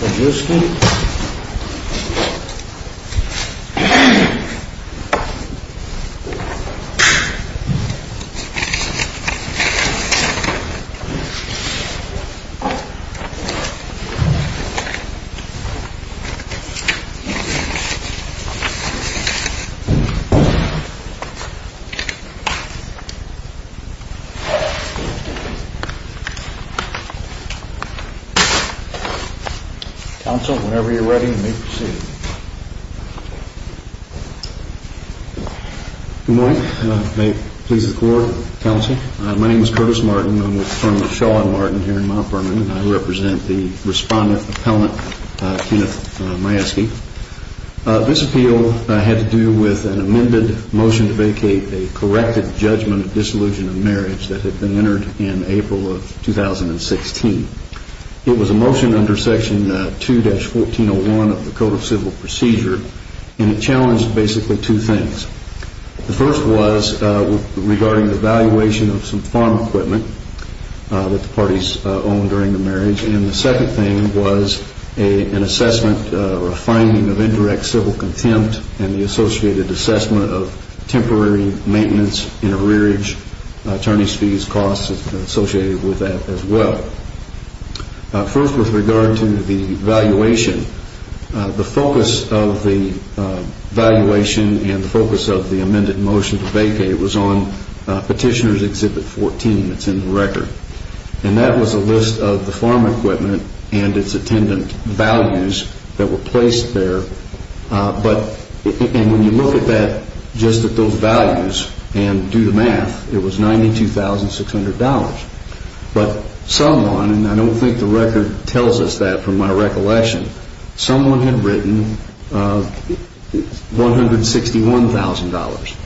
Majewski This appeal had to do with an amended motion to vacate a corrected judgment of disillusion under Section 2-1401 of the Code of Civil Procedure, and it challenged basically two things. The first was regarding the valuation of some farm equipment that the parties owned during the marriage, and the second thing was an assessment or a finding of indirect civil contempt and the associated assessment of temporary maintenance in a rearage attorney's costs associated with that as well. First, with regard to the valuation, the focus of the valuation and the focus of the amended motion to vacate was on Petitioner's Exhibit 14. It's in the record, and that was a list of the farm equipment and its attendant values that were placed there, and when you look at that, just at those values and do the math, it was $92,600. But someone, and I don't think the record tells us that from my recollection, someone had written $161,000.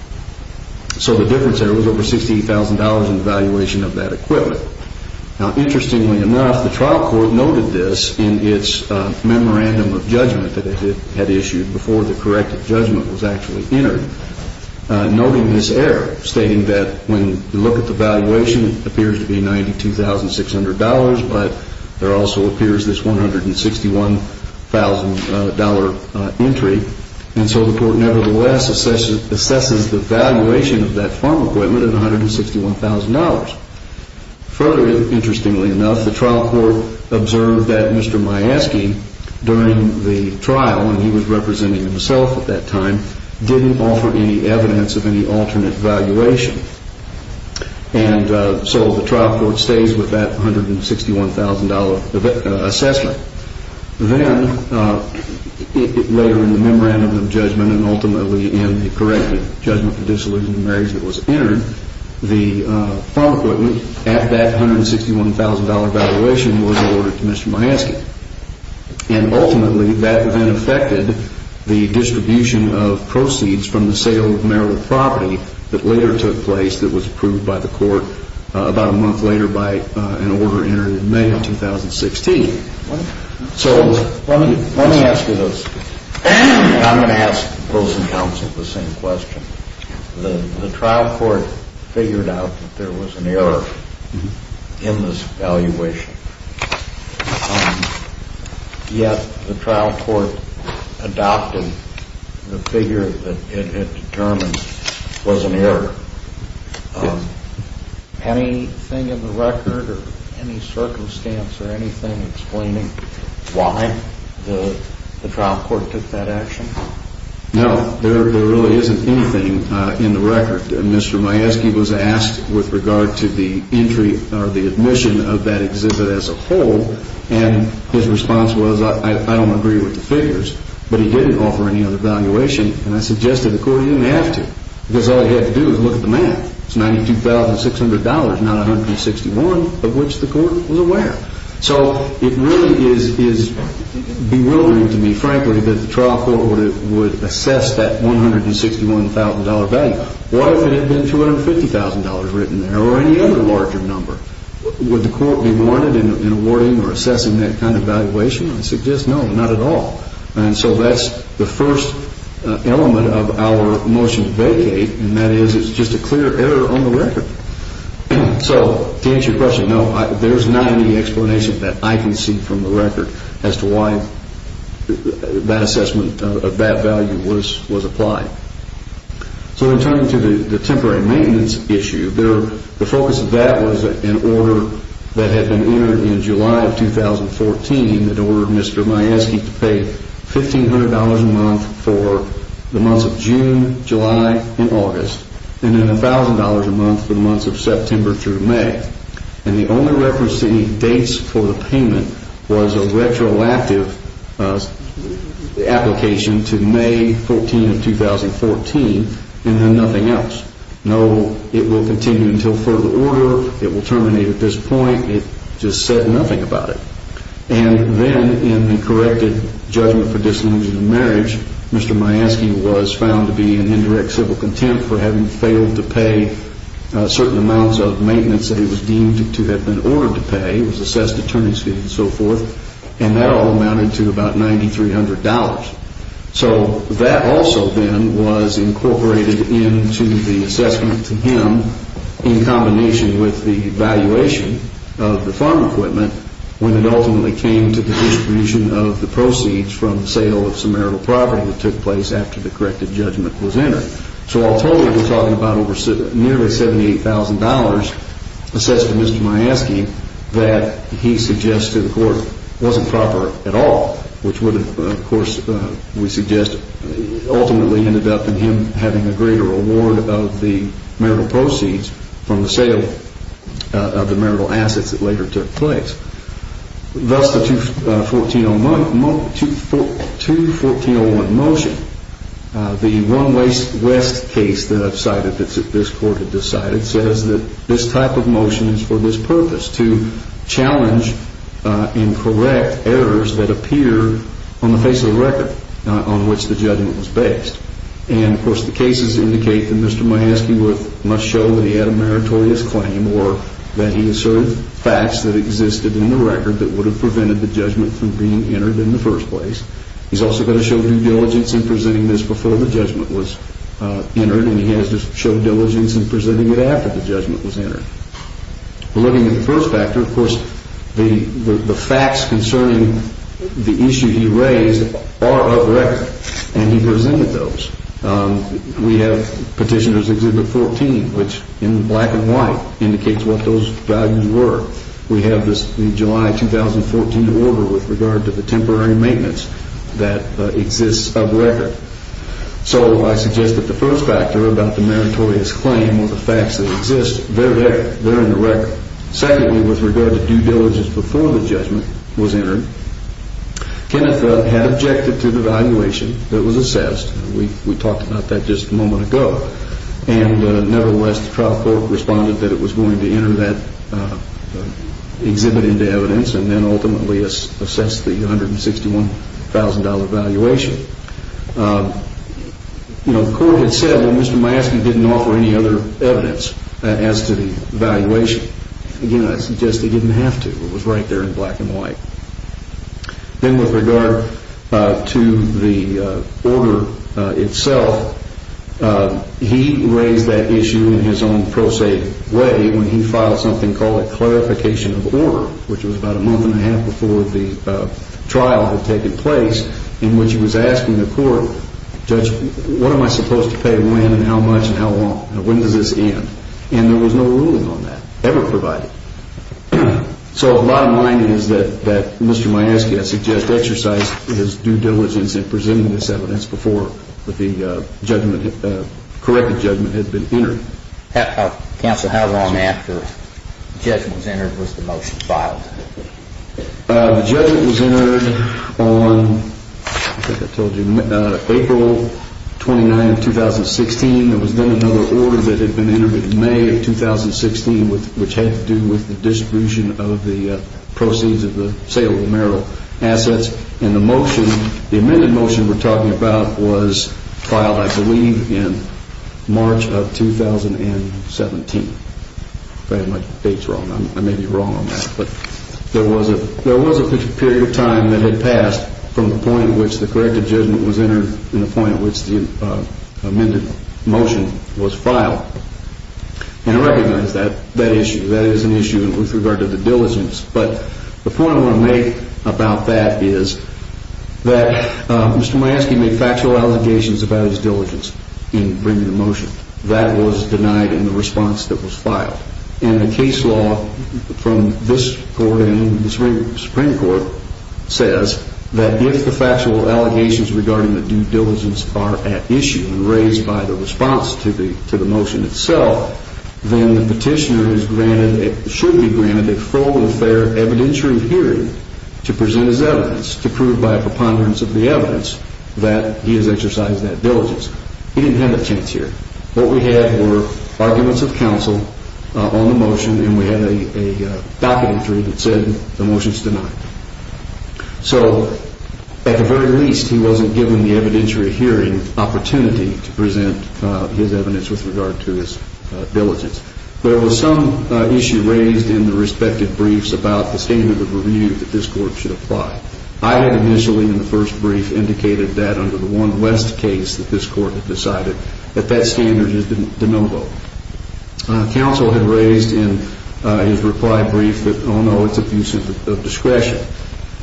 So the difference there was over $68,000 in valuation of that equipment. Now, interestingly enough, the trial court noted this in its memorandum of judgment that it had issued before the corrected judgment was actually entered, noting this when you look at the valuation, it appears to be $92,600, but there also appears this $161,000 entry, and so the court nevertheless assesses the valuation of that farm equipment at $161,000. Further, interestingly enough, the trial court observed that Mr. Majeski during the trial, when he was representing himself at that time, didn't offer any evidence of any alternate valuation, and so the trial court stays with that $161,000 assessment. Then, later in the memorandum of judgment and ultimately in the corrected judgment for disillusioned marriage that was entered, the farm equipment at that $161,000 valuation was awarded to Mr. Majeski, and ultimately that then affected the distribution of proceeds from the sale of marital property that later took place that was approved by the court about a month later by an order entered in May of 2016. So, let me ask you those. I'm going to ask those in counsel the same question. The trial court figured out that there was an error in this valuation, yet the trial court adopted the figure that it had determined was an error. Anything in the record or any circumstance or anything explaining why the trial court took that action? No, there really isn't anything in the record. Mr. Majeski was asked with regard to the entry or the admission of that exhibit as a whole, and his response was, I don't agree with the valuation, and I suggested to the court he didn't have to, because all he had to do was look at the math. It's $92,600, not $161,000, of which the court was aware. So, it really is bewildering to me, frankly, that the trial court would assess that $161,000 value. What if it had been $250,000 written there or any other larger number? Would the court be warranted in awarding or assessing that kind of valuation? I suggest no, not at all. And so that's the first element of our motion to vacate, and that is it's just a clear error on the record. So, to answer your question, no, there's not any explanation that I can see from the record as to why that assessment of that value was applied. So, in terms of the temporary maintenance issue, the focus of that was an order that ordered Mr. Majeski to pay $1,500 a month for the months of June, July, and August, and then $1,000 a month for the months of September through May. And the only reference that he dates for the payment was a retroactive application to May 14th of 2014, and then nothing else. No, it will continue until further order. It will terminate at this point. It just said nothing about it. And then in the corrected judgment for disillusion of marriage, Mr. Majeski was found to be in indirect civil contempt for having failed to pay certain amounts of maintenance that he was deemed to have been ordered to pay. He was assessed to turning speed and so forth, and that all amounted to about $9,300. So that also, then, was incorporated into the assessment to him in combination with the valuation of the farm equipment when it ultimately came to the distribution of the proceeds from the sale of some marital property that took place after the corrected judgment was entered. So all told, we're talking about nearly $78,000 assessed to Mr. Majeski that he suggests to the court wasn't proper at all, which would, of course, we suggest ultimately ended up in him having a greater award of the marital proceeds from the sale of the marital assets that later took place. Thus, the 2-1401 motion, the one-way west case that I've cited that this court has decided, says that this type of motion is for this purpose, to challenge incorrect errors that appear on the face of the record on which the judgment was based. And, of course, the cases indicate that Mr. Majeski must show that he had a meritorious claim or that he asserted facts that existed in the record that would have prevented the judgment from being entered in the first place. He's also got to show due diligence in presenting this before the judgment was entered, and he has to show diligence in presenting it after the judgment was entered. We're looking at the first factor, of course, the facts concerning the issue he raised are of record, and he presented those. We have Petitioner's Exhibit 14, which in black and white indicates what those values were. We have the July 2014 order with regard to the temporary maintenance that exists of record. So I suggest that the first factor about the meritorious claim or the facts that exist, they're in the record. Secondly, with regard to due diligence before the judgment was entered, Kenneth had objected to the valuation that was assessed. We talked about that just a moment ago. And nevertheless, the trial court responded that it was going to enter that exhibit into evidence and then ultimately assess the $161,000 valuation. You know, the court had said, well, Mr. Majeski didn't offer any other evidence as to the valuation. Again, I suggest he didn't have to. It was right there in black and white. Then with regard to the order itself, he raised that issue in his own pro se way when he filed something called a clarification of order, which was about a month and a half before the trial had taken place, in which he was asking the court, Judge, what am I supposed to pay when and how much and how long? When does this end? And there was no ruling on that, ever provided. So the bottom line is that Mr. Majeski, I suggest, exercised his due diligence in presenting this evidence before the corrective judgment had been entered. Counsel, how long after the judgment was entered was the motion filed? The judgment was entered on, I think I told you, April 29, 2016. There was then another order that had been entered in May of 2016, which had to do with the distribution of the proceeds of the sale of the Merrill assets. And the motion, the amended motion we're talking about, was filed, I believe, in March of 2017. If I have my dates wrong, I may be wrong on that. But there was a period of time that had passed from the point at which the corrective judgment was entered and the point at which the amended motion was filed. And I recognize that issue. That is an issue with regard to the diligence. But the point I want to make about that is that Mr. Majeski made factual allegations about his diligence in bringing the motion. That was denied in the response that was filed. And the case law from this Court and the Supreme Court says that if the factual allegations regarding the due diligence are at issue and raised by the response to the motion itself, then the petitioner is granted, should be granted, a full and fair evidentiary hearing to present his evidence to prove by a preponderance of the evidence that he has presented on the motion. And we had a docket entry that said the motion is denied. So, at the very least, he wasn't given the evidentiary hearing opportunity to present his evidence with regard to his diligence. There was some issue raised in the respective briefs about the standard of review that this Court should apply. I had initially in the first brief indicated that the one less case that this Court had decided, that that standard is de novo. Counsel had raised in his reply brief that, oh no, it's abuse of discretion.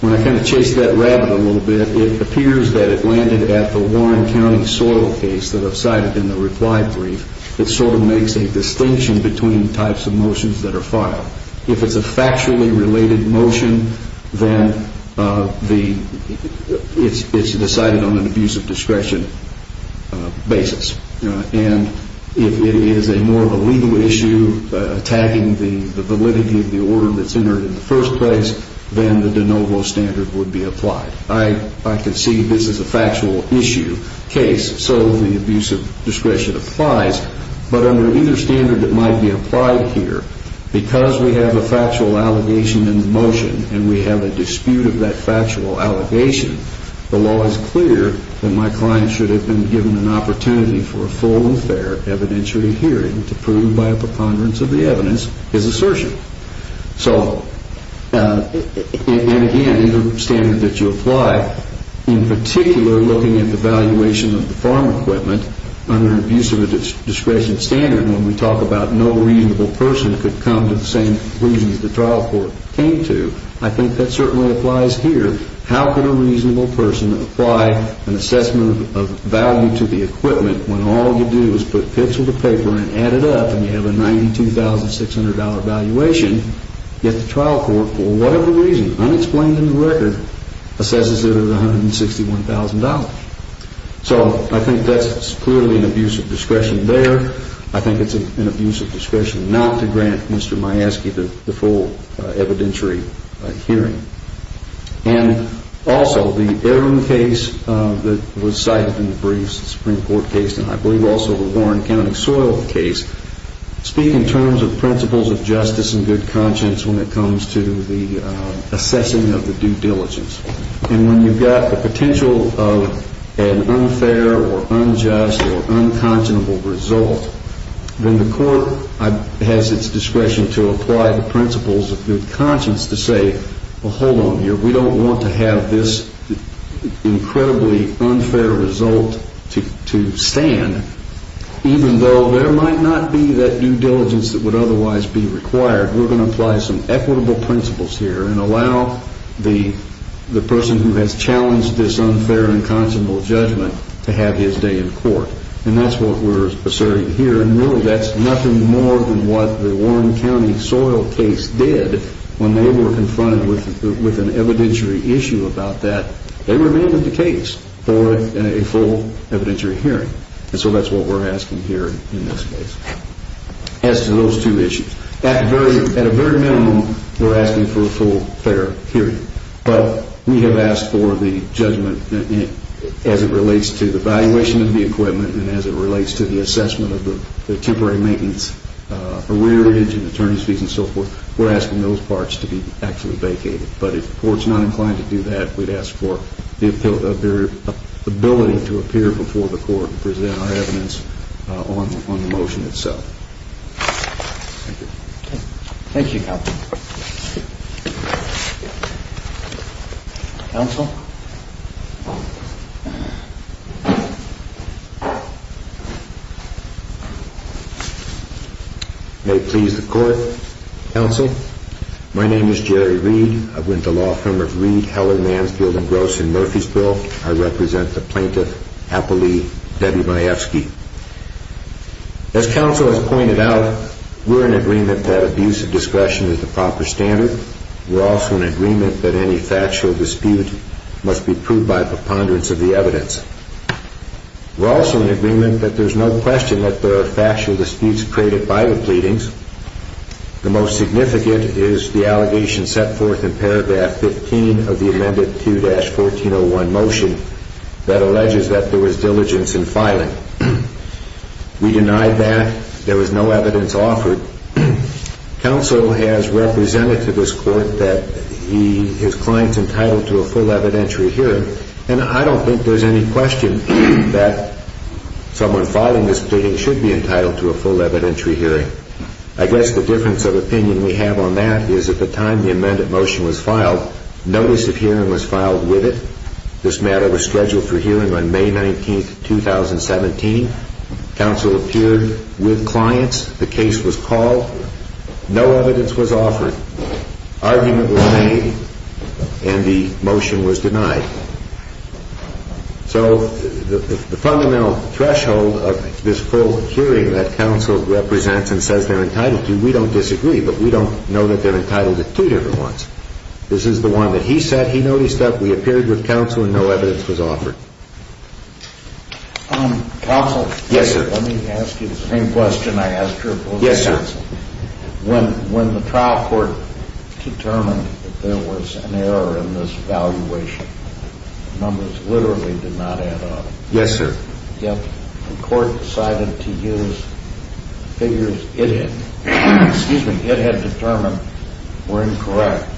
When I kind of chased that rabbit a little bit, it appears that it landed at the Warren County soil case that I've cited in the reply brief that sort of makes a distinction between types of motions that are filed. If it's a abuse of discretion basis, and if it is more of a legal issue, tagging the validity of the order that's entered in the first place, then the de novo standard would be applied. I can see this is a factual issue case, so the abuse of discretion applies. But under either standard that might be applied here, because we have a factual allegation in the motion, and we have a dispute of that factual allegation, the law is clear that my client should have been given an opportunity for a full and fair evidentiary hearing to prove by a preponderance of the evidence his assertion. So, and again, either standard that you apply, in particular looking at the valuation of the farm equipment under abuse of discretion standard when we talk about reasonable person could come to the same reasons the trial court came to, I think that certainly applies here. How could a reasonable person apply an assessment of value to the equipment when all you do is put pencil to paper and add it up and you have a $92,600 valuation, yet the trial court for whatever reason, unexplained in the record, assesses it at $161,000. So I think that's clearly an abuse of discretion there. I think it's an abuse of discretion not to grant Mr. Majeski the full evidentiary hearing. And also the Aaron case that was cited in the briefs, the Supreme Court case, and I believe also the Warren County soil case, speak in terms of principles of justice and good conscience when it comes to the assessing of the due diligence. And when you've got the potential of an unfair or unjust or unconscionable result, then the court has its discretion to apply the principles of good conscience to say, well, hold on here, we don't want to have this incredibly unfair result to stand, even though there might not be that due diligence that would otherwise be required, we're going to apply some equitable principles here and allow the person who has challenged this unfair and unconscionable judgment to have his day in court. And that's what we're asserting here. And really that's nothing more than what the Warren County soil case did when they were confronted with an evidentiary issue about that. They remained in the case for a full evidentiary hearing. And so that's what we're asking here in this case. As to those two issues, at a very minimum, we're asking for a full fair hearing. But we have asked for the judgment as it relates to the valuation of the equipment and as it relates to the assessment of the temporary maintenance, for rearage and attorney's fees and so forth, we're asking those parts to be actually vacated. But if the court's not inclined to do that, we'd ask for their ability to appear before the court and present our evidence on the motion itself. Thank you. Thank you, counsel. May it please the court. Counsel, my name is Jerry Reed. I'm with the law firm of Reed, Heller, Mansfield and Gross in Murfreesboro. I represent the plaintiff, Apple Lee, Debbie Majewski. As counsel has pointed out, we're in agreement that abuse of discretion is the proper standard. We're also in agreement that any factual dispute must be proved by preponderance of the evidence. We're also in agreement that there's no question that there are factual disputes created by the pleadings. The most significant is the allegation set forth in paragraph 15 of the amended 2-1401 motion that alleges that there was diligence in filing. We denied that. There was no evidence offered. Counsel has I think there's any question that someone filing this pleading should be entitled to a full evidentiary hearing. I guess the difference of opinion we have on that is at the time the amended motion was filed, notice of hearing was filed with it. This matter was scheduled for hearing on May 19, 2017. Counsel appeared with clients. The case was called. No evidence was offered. Argument was made and the motion was denied. So the fundamental threshold of this full hearing that counsel represents and says they're entitled to, we don't disagree. But we don't know that they're entitled to two different ones. This is the one that he said he noticed that we appeared with counsel and no evidence was offered. Counsel. Yes, sir. Let me ask you the same question I asked her. Yes, sir. When when the trial court determined that there was an error in this valuation, numbers literally did not add up. Yes, sir. The court decided to use figures it had determined were incorrect.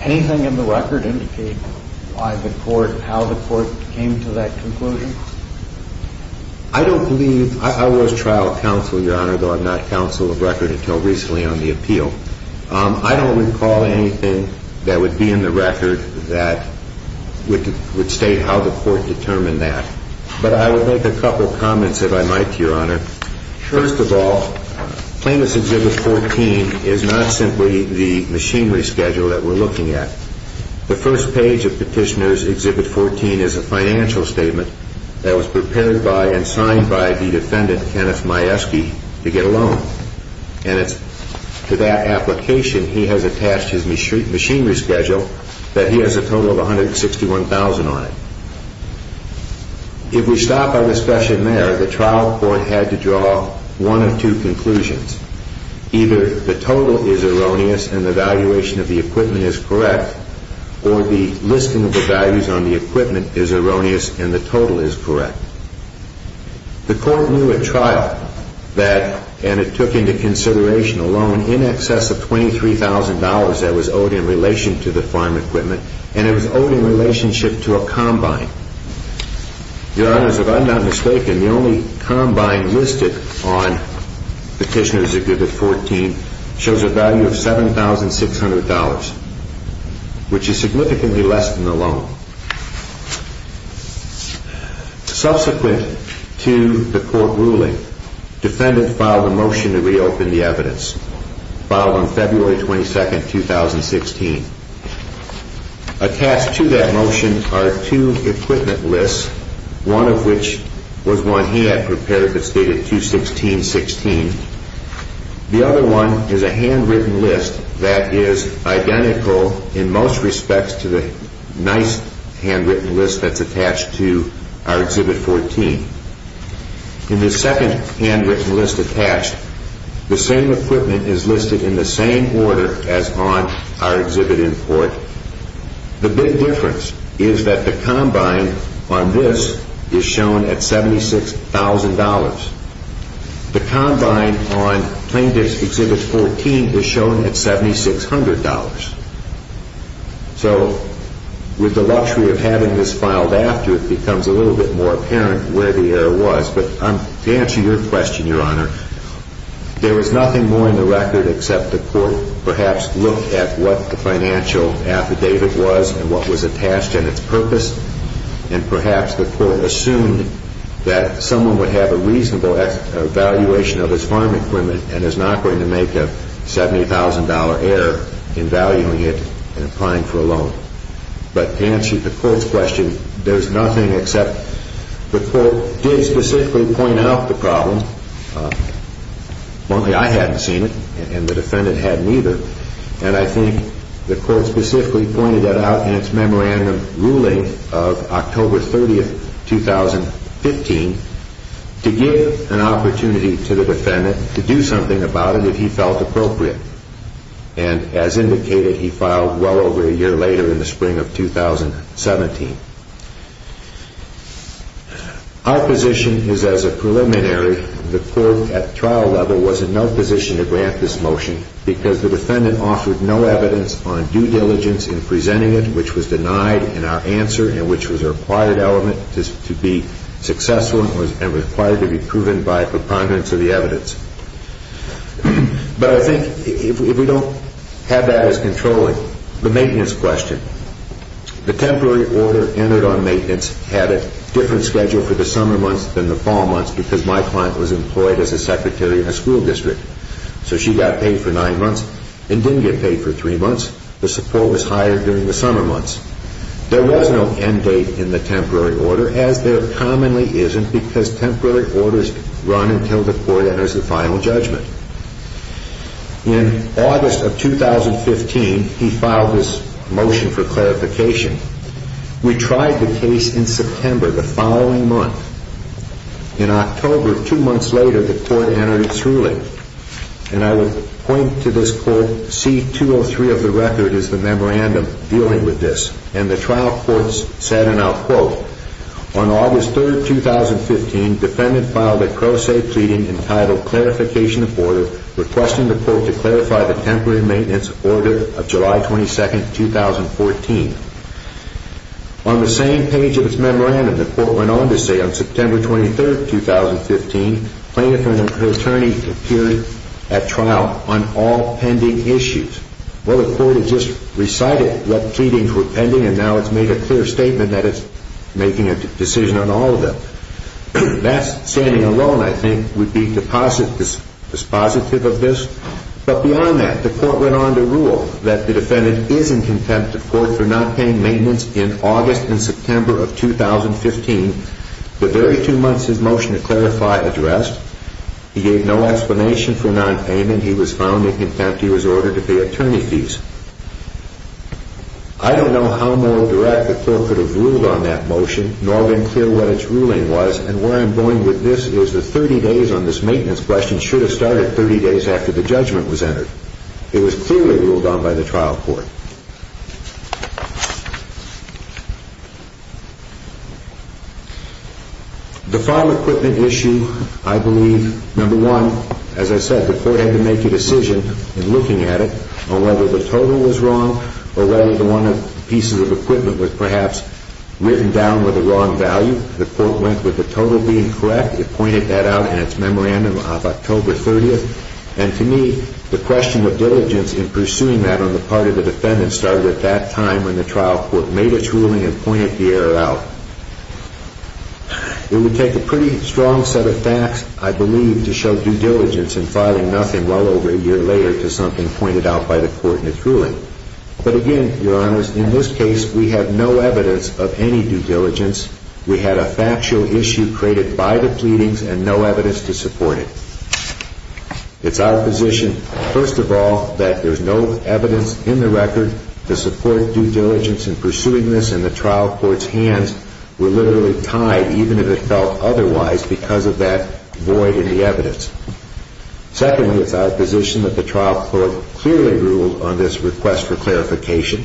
Anything in the record indicate why the court, how the court came to that conclusion? I don't believe I was trial counsel, Your Honor, though I'm not counsel of record until recently on the appeal. I don't recall anything that would be in the record that would state how the court determined that. But I would make a couple of comments if I might, Your Honor. First of all, Plaintiff's Exhibit 14 is not simply the machinery schedule that we're looking at. The first page of Petitioner's Exhibit 14 is a financial statement that was prepared by and signed by the defendant, Kenneth Majewski, to get a loan. And it's to that application he has If we stop our discussion there, the trial court had to draw one of two conclusions. Either the total is erroneous and the valuation of the equipment is correct, or the listing of the values on the equipment is erroneous and the total is correct. The court knew at trial that, and it took into consideration a loan in excess of $23,000 that was owed in relation to the farm equipment, and it was owed in relationship to a combine. Your Honor, if I'm not mistaken, the only combine listed on Petitioner's Exhibit 14 shows a value of $7,600, which is significantly less than the loan. Subsequent to the court ruling, defendant filed a motion to reopen the evidence. Filed on February 22, 2016. Attached to that motion are two equipment lists, one of which was one he had prepared that stated 216-16. The other one is a handwritten list that is identical in most respects to the nice handwritten list that's attached to our Exhibit 14. In the second handwritten list attached, the same equipment is listed in the same order as on our Exhibit in court. The big difference is that the combine on this is shown at $76,000. The combine on Plain Disk Exhibit 14 is shown at $7,600. With the luxury of having this filed after, it becomes a little bit more apparent where the error was. To answer your question, Your Honor, there was nothing more in the record except the court perhaps looked at what the financial affidavit was and what was attached in its purpose, and perhaps the court assumed that someone would have a reasonable evaluation of his farm equipment and is not going to make a $70,000 error in valuing it and applying for a loan. But to answer the court's question, there's nothing except the court did specifically point out the problem. Only I hadn't seen it, and the defendant hadn't either. And I think the court specifically pointed that out in its memorandum ruling of October 30, 2015 to give an opportunity to the defendant to do something about it if he felt appropriate. And as indicated, he filed well over a year later in the spring of 2017. Our position is as a preliminary, the court at trial level was in no position to grant this motion because the defendant offered no evidence on due diligence in presenting it, which was denied in our answer and which was a required element to be successful and required to be proven by a preponderance of the evidence. But I think if we don't have that as controlling, the maintenance question. The temporary order entered on maintenance had a different schedule for the summer months than the fall months because my client was employed as a secretary in a school district. So she got paid for nine months and didn't get paid for three months. The support was higher during the summer months. There was no end date in the temporary order, as there commonly isn't, because temporary orders run until the court enters the final judgment. In August of 2015, he filed this motion for clarification. We tried the case in September, the following month. In October, two months later, the court entered its ruling. And I would point to this quote, C-203 of the record is the memorandum dealing with this. And the trial court said, and I'll quote, On August 3, 2015, defendant filed a pro se pleading entitled Clarification of Order requesting the court to clarify the temporary maintenance order of July 22, 2014. On the same page of its memorandum, the court went on to say, On September 23, 2015, plaintiff and her attorney appeared at trial on all pending issues. Well, the court has just recited what pleadings were pending, and now it's made a clear statement that it's making a decision on all of them. That standing alone, I think, would be dispositive of this. But beyond that, the court went on to rule that the defendant is in contempt of court for not paying maintenance in August and September of 2015. The very two months his motion to clarify addressed, he gave no explanation for nonpayment. And he was found in contempt. He was ordered to pay attorney fees. I don't know how moral direct the court could have ruled on that motion, nor been clear what its ruling was. And where I'm going with this is the 30 days on this maintenance question should have started 30 days after the judgment was entered. It was clearly ruled on by the trial court. The file equipment issue, I believe, number one, as I said, the court had to make a decision in looking at it on whether the total was wrong or whether one of the pieces of equipment was perhaps written down with the wrong value. The court went with the total being correct. It pointed that out in its memorandum of October 30th. And to me, the question of diligence in pursuing that on the part of the defendant started at that time when the trial court made its ruling and pointed the error out. It would take a pretty strong set of facts, I believe, to show due diligence in filing nothing well over a year later to something pointed out by the court in its ruling. But again, Your Honor, in this case, we have no evidence of any due diligence. We had a factual issue created by the pleadings and no evidence to support it. It's our position, first of all, that there's no evidence in the record to support due diligence in pursuing this, and the trial court's hands were literally tied, even if it felt otherwise, because of that void in the evidence. Secondly, it's our position that the trial court clearly ruled on this request for clarification.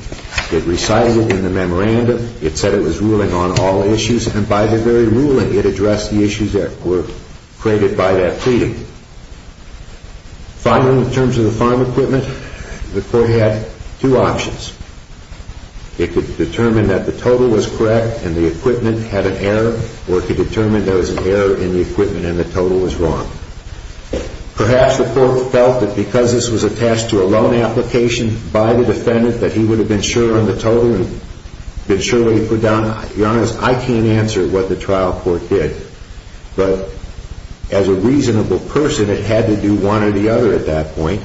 It recited it in the memorandum. It said it was ruling on all issues, and by the very ruling it addressed the issues that were created by that pleading. Finally, in terms of the farm equipment, the court had two options. It could determine that the total was correct and the equipment had an error or it could determine there was an error in the equipment and the total was wrong. Perhaps the court felt that because this was attached to a loan application by the defendant that he would have been sure on the total and been sure what he put down. Your Honor, I can't answer what the trial court did, but as a reasonable person it had to do one or the other at that point,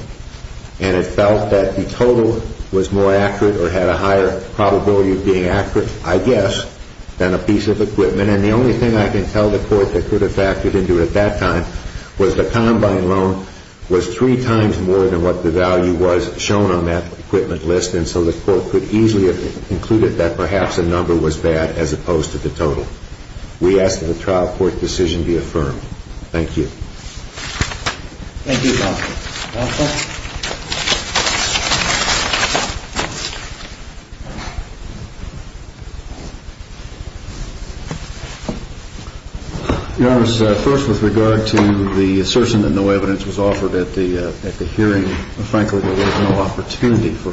and it felt that the total was more accurate or had a higher probability of being accurate, I guess, than a piece of equipment. And the only thing I can tell the court that could have factored into it at that time was the combine loan was three times more than what the value was shown on that equipment list, and so the court could easily have concluded that perhaps a number was bad as opposed to the total. We ask that the trial court decision be affirmed. Thank you. Thank you, counsel. Counsel? Your Honor, first with regard to the assertion that no evidence was offered at the hearing, frankly, there was no opportunity for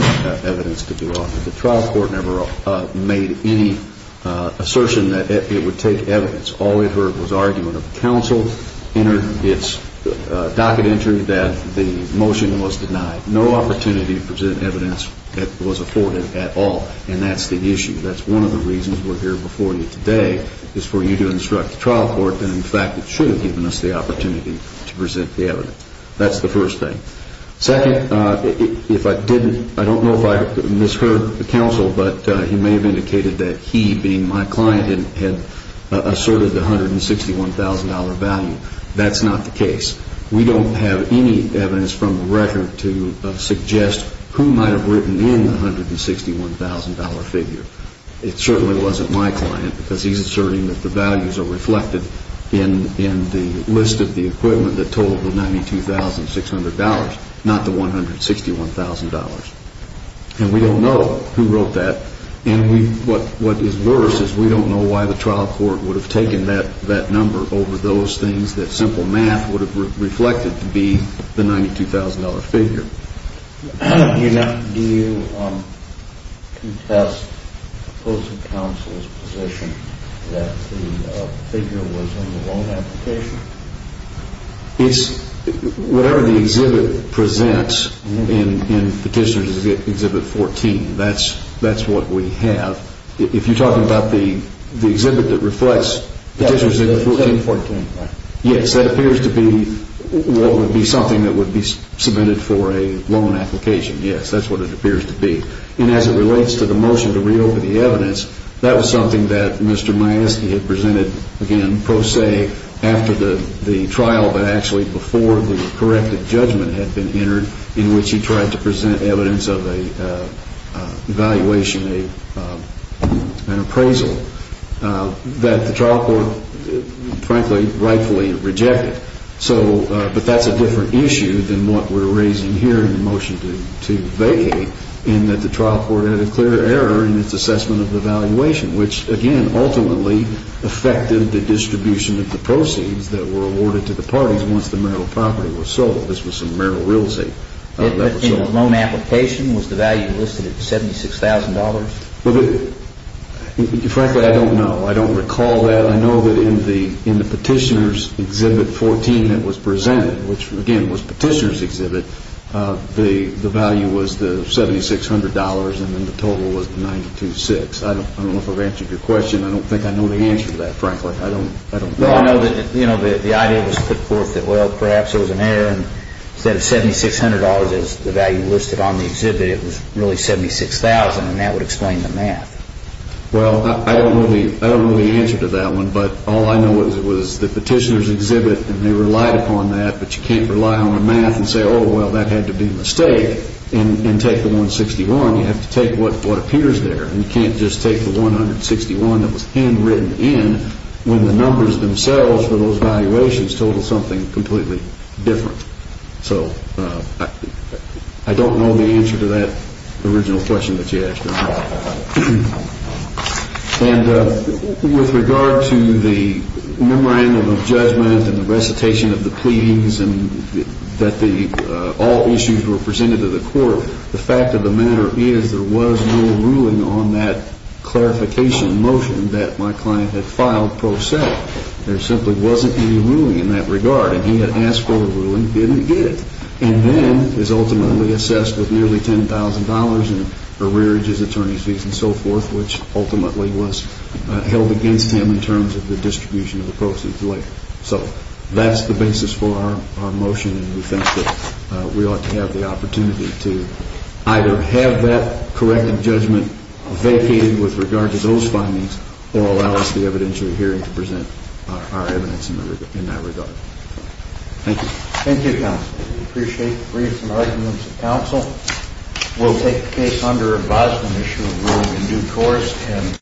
evidence to be offered. The trial court never made any assertion that it would take evidence. All we heard was argument of counsel entered its docket entry that the motion was denied. No opportunity to present evidence that was afforded at all, and that's the issue. That's one of the reasons we're here before you today is for you to instruct the trial court that, in fact, it should have given us the opportunity to present the evidence. That's the first thing. Second, if I didn't, I don't know if I misheard the counsel, but he may have indicated that he, being my client, had asserted the $161,000 value. That's not the case. We don't have any evidence from the record to suggest who might have written in the $161,000 figure. It certainly wasn't my client because he's asserting that the values are reflected in the list of the equipment that told the $92,600, not the $161,000. And we don't know who wrote that. And what is worse is we don't know why the trial court would have taken that number over those things that simple math would have reflected to be the $92,000 figure. Do you contest the opposing counsel's position that the figure was in the loan application? Whatever the exhibit presents in Petitioner's Exhibit 14, that's what we have. If you're talking about the exhibit that reflects Petitioner's Exhibit 14? Yes, that appears to be what would be something that would be submitted for a loan application. Yes, that's what it appears to be. And as it relates to the motion to reopen the evidence, that was something that Mr. Majeski had presented, again, pro se, after the trial, but actually before the corrected judgment had been entered in which he tried to present evidence of an evaluation, an appraisal, that the trial court, frankly, rightfully rejected. But that's a different issue than what we're raising here in the motion to vacate in that the trial court had a clear error in its assessment of the valuation, which, again, ultimately affected the distribution of the proceeds that were awarded to the parties once the Merrill property was sold. This was some Merrill real estate that was sold. In the loan application, was the value listed at $76,000? Frankly, I don't know. I don't recall that. I know that in the Petitioner's Exhibit 14 that was presented, which, again, was Petitioner's Exhibit, the value was the $7,600, and then the total was the $9,206. I don't know if I've answered your question. I don't think I know the answer to that, frankly. I know that the idea was put forth that, well, perhaps it was an error, and instead of $7,600 as the value listed on the exhibit, it was really $76,000, and that would explain the math. Well, I don't know the answer to that one, but all I know is it was the Petitioner's Exhibit, and they relied upon that, but you can't rely on the math and say, oh, well, that had to be a mistake, and take the 161. You have to take what appears there. You can't just take the 161 that was handwritten in when the numbers themselves for those valuations total something completely different. So I don't know the answer to that original question that you asked. And with regard to the memorandum of judgment and the recitation of the pleadings and that all issues were presented to the court, the fact of the matter is there was no ruling on that clarification motion that my client had filed pro se. There simply wasn't any ruling in that regard, and he had asked for a ruling, didn't get it, and then is ultimately assessed with nearly $10,000 in arrearages, attorney's fees, and so forth, which ultimately was held against him in terms of the distribution of the proceeds later. So that's the basis for our motion, and we think that we ought to have the opportunity to either have that corrective judgment vacated with regard to those findings or allow us the evidentiary hearing to present our evidence in that regard. Thank you. Thank you, counsel. We appreciate the briefs and arguments of counsel. We'll take the case under advisement issue of ruling in due course.